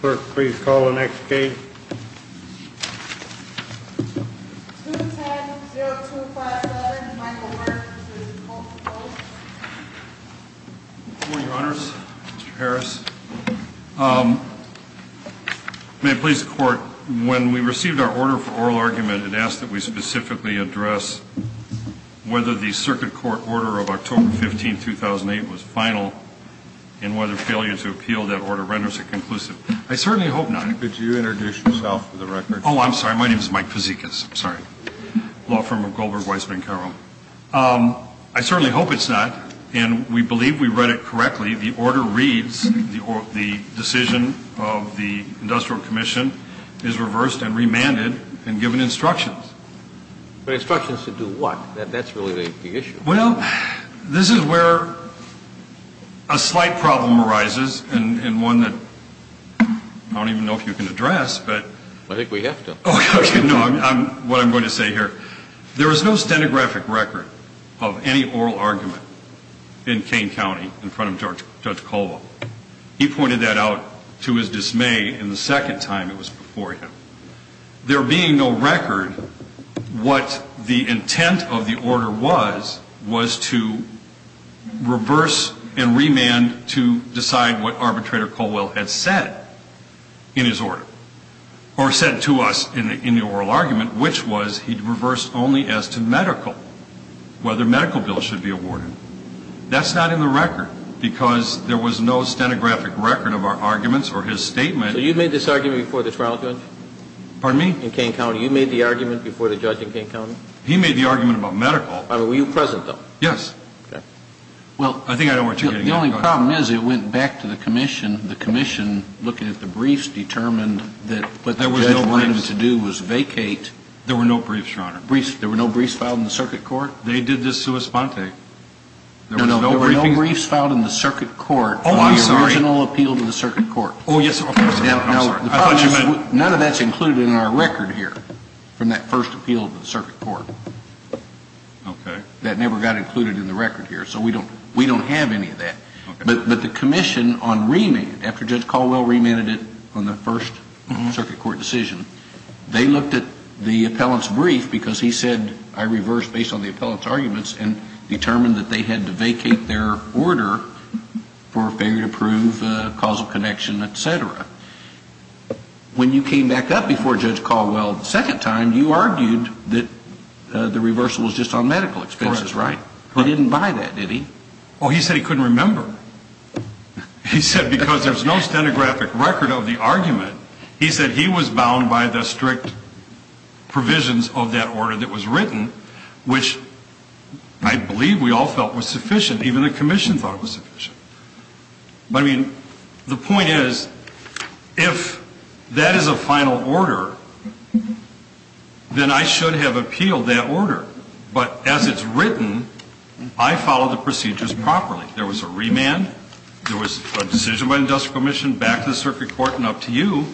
Clerk, please call the next case. 210-0257, Michael Werk v. Multicoast Good morning, Your Honors. Mr. Harris. May it please the Court, when we received our order for oral argument, it asked that we specifically address whether the Circuit Court order of October 15, 2008 was final and whether failure to appeal that order renders it conclusive. I certainly hope not. Could you introduce yourself for the record? Oh, I'm sorry. My name is Mike Fazekas. I'm sorry. Law firm of Goldberg, Weissman & Carroll. I certainly hope it's not, and we believe we read it correctly. The order reads, the decision of the Industrial Commission is reversed and remanded and given instructions. Instructions to do what? That's really the issue. Well, this is where a slight problem arises, and one that I don't even know if you can address. I think we have to. No, what I'm going to say here, there is no stenographic record of any oral argument in Kane County in front of Judge Colva. He pointed that out to his dismay the second time it was before him. There being no record, what the intent of the order was, was to reverse and remand to decide what Arbitrator Colwell had said in his order, or said to us in the oral argument, which was he reversed only as to medical, whether medical bills should be awarded. That's not in the record, because there was no stenographic record of our arguments or his statement. So you made this argument before the trial judge? Pardon me? In Kane County. You made the argument before the judge in Kane County? He made the argument about medical. Were you present, though? Yes. Okay. Well, the only problem is it went back to the Commission. The Commission, looking at the briefs, determined that what the judge wanted to do was vacate. There were no briefs, Your Honor. There were no briefs filed in the circuit court? They did this sua sponte. No, no, there were no briefs filed in the circuit court for the original appeal to the circuit court. Oh, yes. None of that's included in our record here from that first appeal to the circuit court. Okay. That never got included in the record here. So we don't have any of that. But the Commission on remand, after Judge Colwell remanded it on the first circuit court decision, they looked at the appellant's brief, because he said I reversed based on the appellant's arguments, and determined that they had to vacate their order for failure to prove causal connection, et cetera. When you came back up before Judge Colwell the second time, you argued that the reversal was just on medical expenses, right? Correct. He didn't buy that, did he? Oh, he said he couldn't remember. He said because there's no stenographic record of the argument, he said he was bound by the strict provisions of that order that was written, which I believe we all felt was sufficient. Even the Commission thought it was sufficient. But, I mean, the point is, if that is a final order, then I should have appealed that order. But as it's written, I followed the procedures properly. There was a remand. There was a decision by the industrial commission, back to the circuit court, and up to you.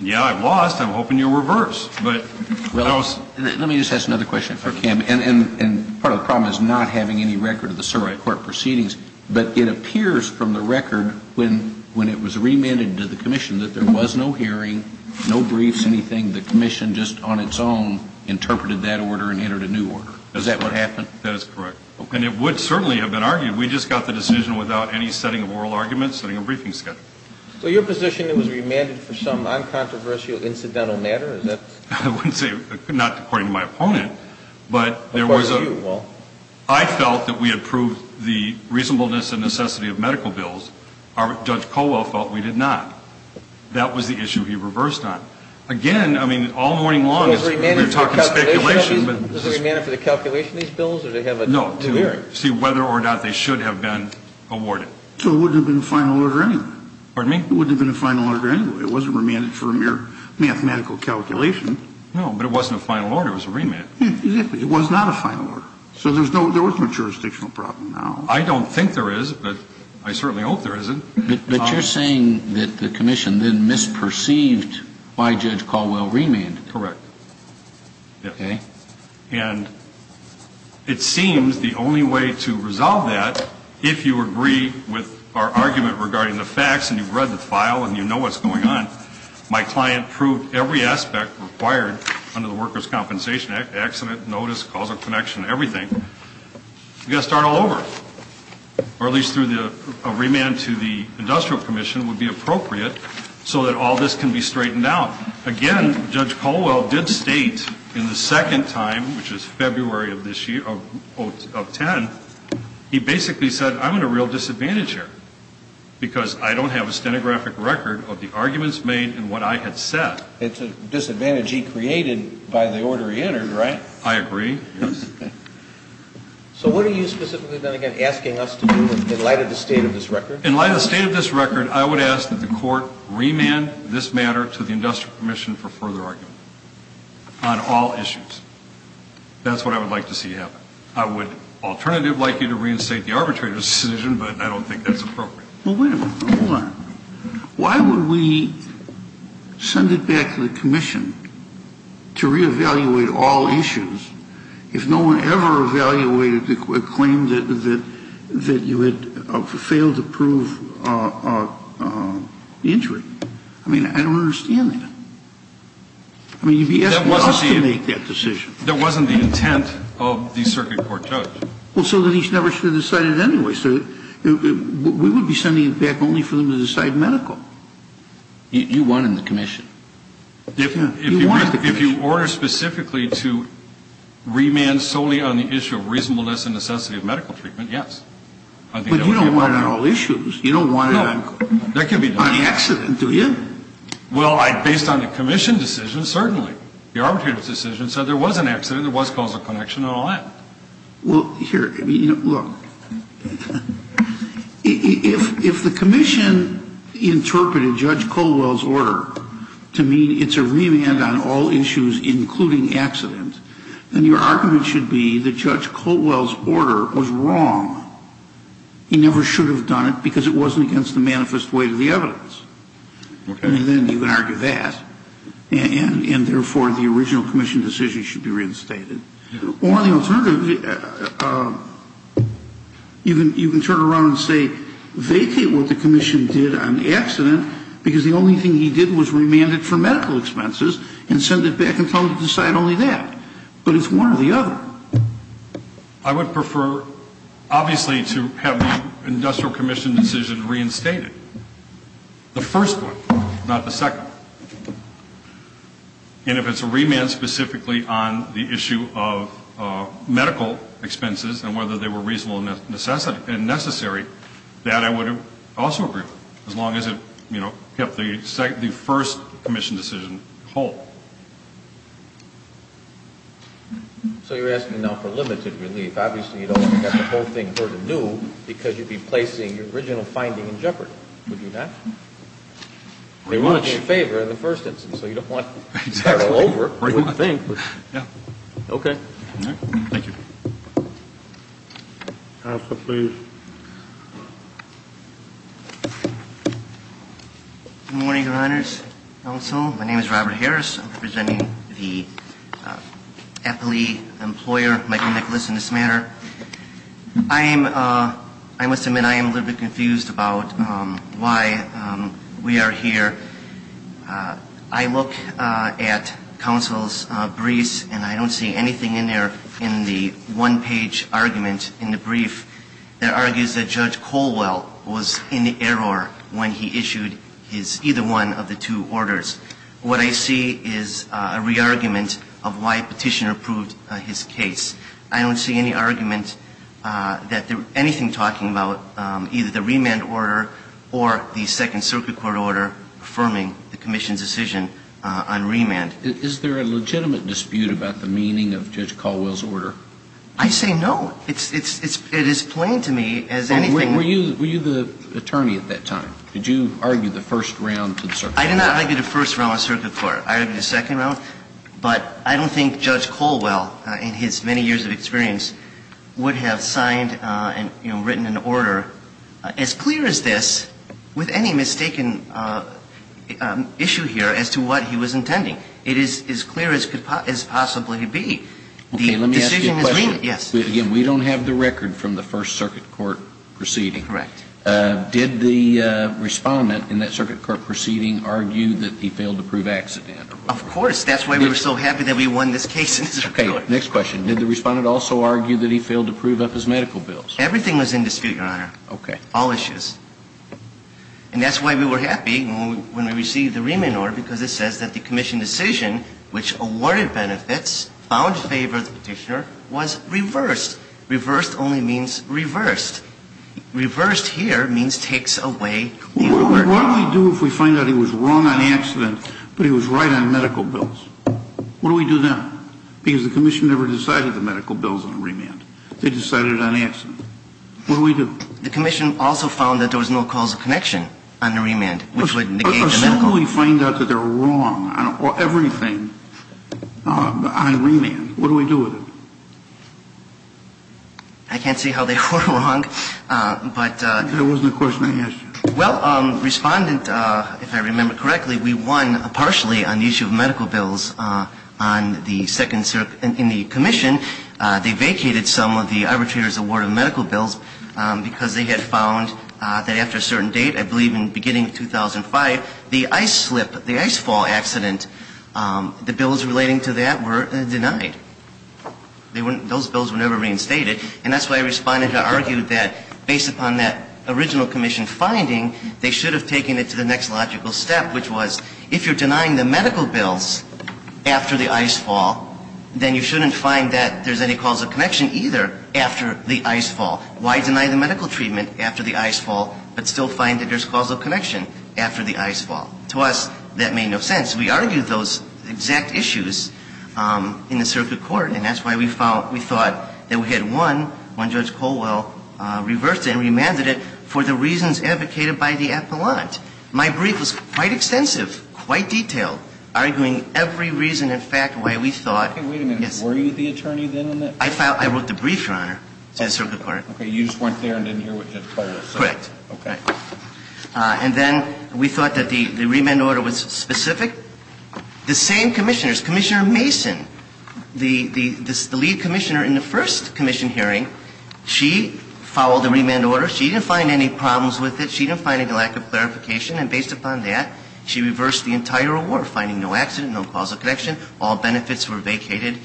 Yeah, I lost. I'm hoping you'll reverse. Let me just ask another question for Kim. And part of the problem is not having any record of the circuit court proceedings, but it appears from the record when it was remanded to the Commission that there was no hearing, no briefs, anything. The Commission just on its own interpreted that order and entered a new order. Is that what happened? That is correct. And it would certainly have been argued. We just got the decision without any setting of oral arguments, setting a briefing schedule. So your position that it was remanded for some uncontroversial incidental matter, is that? I wouldn't say, not according to my opponent, but there was a ‑‑ According to you, well. I felt that we had proved the reasonableness and necessity of medical bills. Judge Colwell felt we did not. That was the issue he reversed on. Again, I mean, all morning long we were talking speculation. Was it remanded for the calculation of these bills, or did they have a hearing? No, to see whether or not they should have been awarded. So it wouldn't have been a final order anyway. Pardon me? It wouldn't have been a final order anyway. It wasn't remanded for a mere mathematical calculation. No, but it wasn't a final order. It was a remand. Exactly. It was not a final order. So there was no jurisdictional problem now. I don't think there is, but I certainly hope there isn't. But you're saying that the Commission then misperceived why Judge Colwell remanded it. Correct. Okay. And it seems the only way to resolve that, if you agree with our argument regarding the facts and you've read the file and you know what's going on, my client proved every aspect required under the Workers' Compensation Act, accident, notice, causal connection, everything, you've got to start all over. Or at least a remand to the Industrial Commission would be appropriate so that all this can be straightened out. Again, Judge Colwell did state in the second time, which was February of 2010, he basically said, I'm at a real disadvantage here because I don't have a stenographic record of the arguments made and what I had said. It's a disadvantage he created by the order he entered, right? I agree, yes. So what are you specifically then again asking us to do in light of the state of this record? In light of the state of this record, I would ask that the court remand this matter to the Industrial Commission for further argument on all issues. That's what I would like to see happen. I would alternatively like you to reinstate the arbitrary decision, but I don't think that's appropriate. Well, wait a minute. Hold on. Why would we send it back to the Commission to reevaluate all issues if no one ever evaluated the claim that you had failed to prove the injury? I mean, I don't understand that. I mean, you'd be asking us to make that decision. That wasn't the intent of the circuit court judge. Well, so then he's never should have decided anyway. So we would be sending it back only for them to decide medical. You won in the Commission. If you order specifically to remand solely on the issue of reasonableness and necessity of medical treatment, yes. But you don't want it on all issues. You don't want it on the accident, do you? Well, based on the Commission decision, certainly. The arbitrary decision said there was an accident, there was causal connection, and all that. Well, here, look. If the Commission interpreted Judge Colwell's order to mean it's a remand on all issues, including accident, then your argument should be that Judge Colwell's order was wrong. He never should have done it because it wasn't against the manifest weight of the evidence. And then you can argue that. And, therefore, the original Commission decision should be reinstated. Or the alternative, you can turn around and say vacate what the Commission did on the accident because the only thing he did was remand it for medical expenses and send it back and tell them to decide only that. But it's one or the other. I would prefer, obviously, to have the Industrial Commission decision reinstated. The first one, not the second one. And if it's a remand specifically on the issue of medical expenses and whether they were reasonable and necessary, that I would also agree with, as long as it kept the first Commission decision whole. So you're asking now for limited relief. Obviously, you don't want to get the whole thing heard anew because you'd be placing your original finding in jeopardy, would you not? They want to do you a favor in the first instance. So you don't want to start all over. I don't think. Okay. Thank you. Counsel, please. Good morning, Your Honors. Counsel. My name is Robert Harris. I'm representing the FLE employer, Michael Nicholas, in this matter. I must admit I am a little bit confused about why we are here. I look at counsel's briefs, and I don't see anything in there in the one-page argument in the brief that argues that Judge Colwell was in the error when he issued either one of the two orders. What I see is a re-argument of why Petitioner proved his case. I don't see any argument that there's anything talking about either the remand order or the Second Circuit Court order affirming the Commission's decision on remand. Is there a legitimate dispute about the meaning of Judge Colwell's order? I say no. It is plain to me as anything. Were you the attorney at that time? Did you argue the first round to the Circuit Court? I did not argue the first round of Circuit Court. I argued the second round. But I don't think Judge Colwell, in his many years of experience, would have signed and, you know, written an order as clear as this with any mistaken issue here as to what he was intending. It is as clear as could possibly be. Okay. Let me ask you a question. Yes. Again, we don't have the record from the First Circuit Court proceeding. Correct. Did the Respondent in that Circuit Court proceeding argue that he failed to prove accident? Of course. That's why we were so happy that we won this case. Okay. Next question. Did the Respondent also argue that he failed to prove up his medical bills? Everything was in dispute, Your Honor. Okay. All issues. And that's why we were happy when we received the remand order because it says that the Commission decision, which awarded benefits, found favor of the Petitioner, was reversed. Reversed only means reversed. Reversed here means takes away. What do we do if we find out he was wrong on accident but he was right on medical bills? What do we do then? Because the Commission never decided the medical bills on remand. They decided it on accident. What do we do? The Commission also found that there was no causal connection on the remand, which would negate the medical bills. Assume we find out that they're wrong on everything on remand. What do we do with it? I can't say how they were wrong, but ---- Well, Respondent, if I remember correctly, we won partially on the issue of medical bills in the Commission. They vacated some of the arbitrator's award of medical bills because they had found that after a certain date, I believe in the beginning of 2005, the ice slip, the ice fall accident, the bills relating to that were denied. Those bills were never reinstated. And that's why Respondent argued that based upon that original Commission finding, they should have taken it to the next logical step, which was if you're denying the medical bills after the ice fall, then you shouldn't find that there's any causal connection either after the ice fall. Why deny the medical treatment after the ice fall but still find that there's causal connection after the ice fall? To us, that made no sense. We argued those exact issues in the circuit court. And that's why we thought that we had won when Judge Colwell reversed it and remanded it for the reasons advocated by the appellant. My brief was quite extensive, quite detailed, arguing every reason and fact why we thought ---- Wait a minute. Were you the attorney then in that? I wrote the brief, Your Honor, to the circuit court. Okay. You just weren't there and didn't hear what Judge Colwell said. Correct. Okay. And then we thought that the remand order was specific. The same commissioners, Commissioner Mason, the lead commissioner in the first commission hearing, she followed the remand order. She didn't find any problems with it. She didn't find any lack of clarification. And based upon that, she reversed the entire award, finding no accident, no causal connection. All benefits were vacated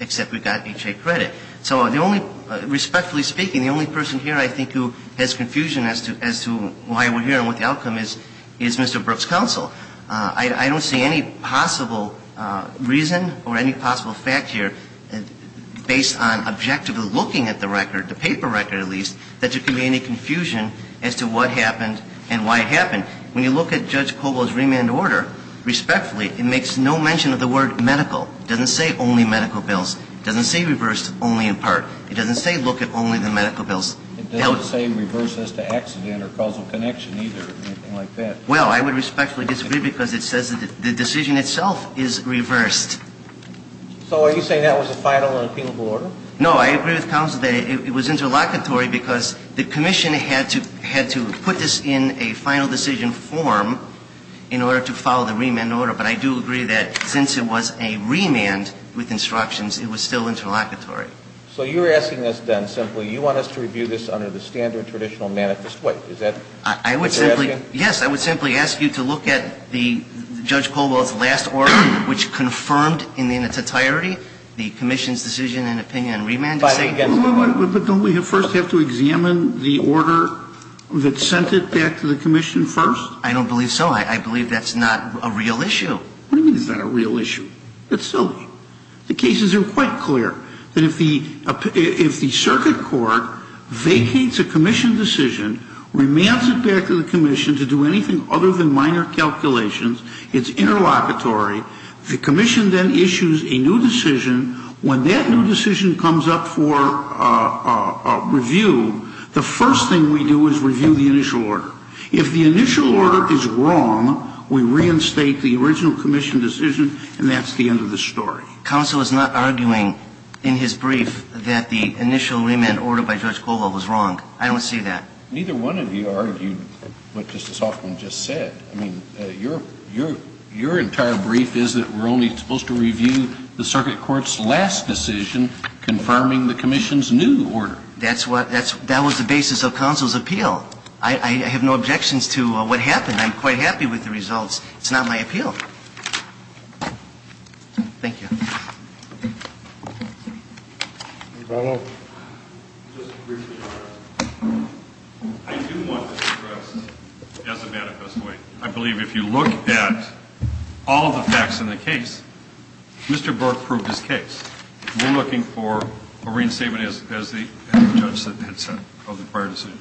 except we got H.A. credit. So the only ---- respectfully speaking, the only person here I think who has confusion as to why we're here and what the outcome is, is Mr. Brooks' counsel. I don't see any possible reason or any possible fact here based on objectively looking at the record, the paper record at least, that there could be any confusion as to what happened and why it happened. When you look at Judge Colwell's remand order, respectfully, it makes no mention of the word medical. It doesn't say only medical bills. It doesn't say reverse only in part. It doesn't say look at only the medical bills. It doesn't say reverse as to accident or causal connection either or anything like that. Well, I would respectfully disagree because it says the decision itself is reversed. So are you saying that was a final and appealable order? No. I agree with counsel that it was interlocutory because the commission had to put this in a final decision form in order to follow the remand order. But I do agree that since it was a remand with instructions, it was still interlocutory. So you're asking us then simply you want us to review this under the standard traditional manifest way. Is that what you're asking? Yes. I would simply ask you to look at the Judge Colwell's last order, which confirmed in its entirety the commission's decision and opinion on remand. But don't we first have to examine the order that sent it back to the commission first? I don't believe so. I believe that's not a real issue. What do you mean it's not a real issue? It's silly. The cases are quite clear that if the circuit court vacates a commission decision, remands it back to the commission to do anything other than minor calculations, it's interlocutory. The commission then issues a new decision. When that new decision comes up for review, the first thing we do is review the initial order. If the initial order is wrong, we reinstate the original commission decision, and that's the end of the story. Counsel is not arguing in his brief that the initial remand order by Judge Colwell was wrong. I don't see that. Neither one of you argued what Justice Hoffman just said. I mean, your entire brief is that we're only supposed to review the circuit court's last decision confirming the commission's new order. That was the basis of counsel's appeal. I have no objections to what happened. I'm quite happy with the results. It's not my appeal. Thank you. I do want to address, as a manifest way, I believe if you look at all the facts in the case, Mr. Burke proved his case. We're looking for a reinstatement as the judge said, of the prior decision.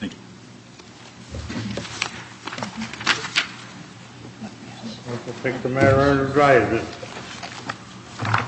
Thank you. I will take the matter under drive, then.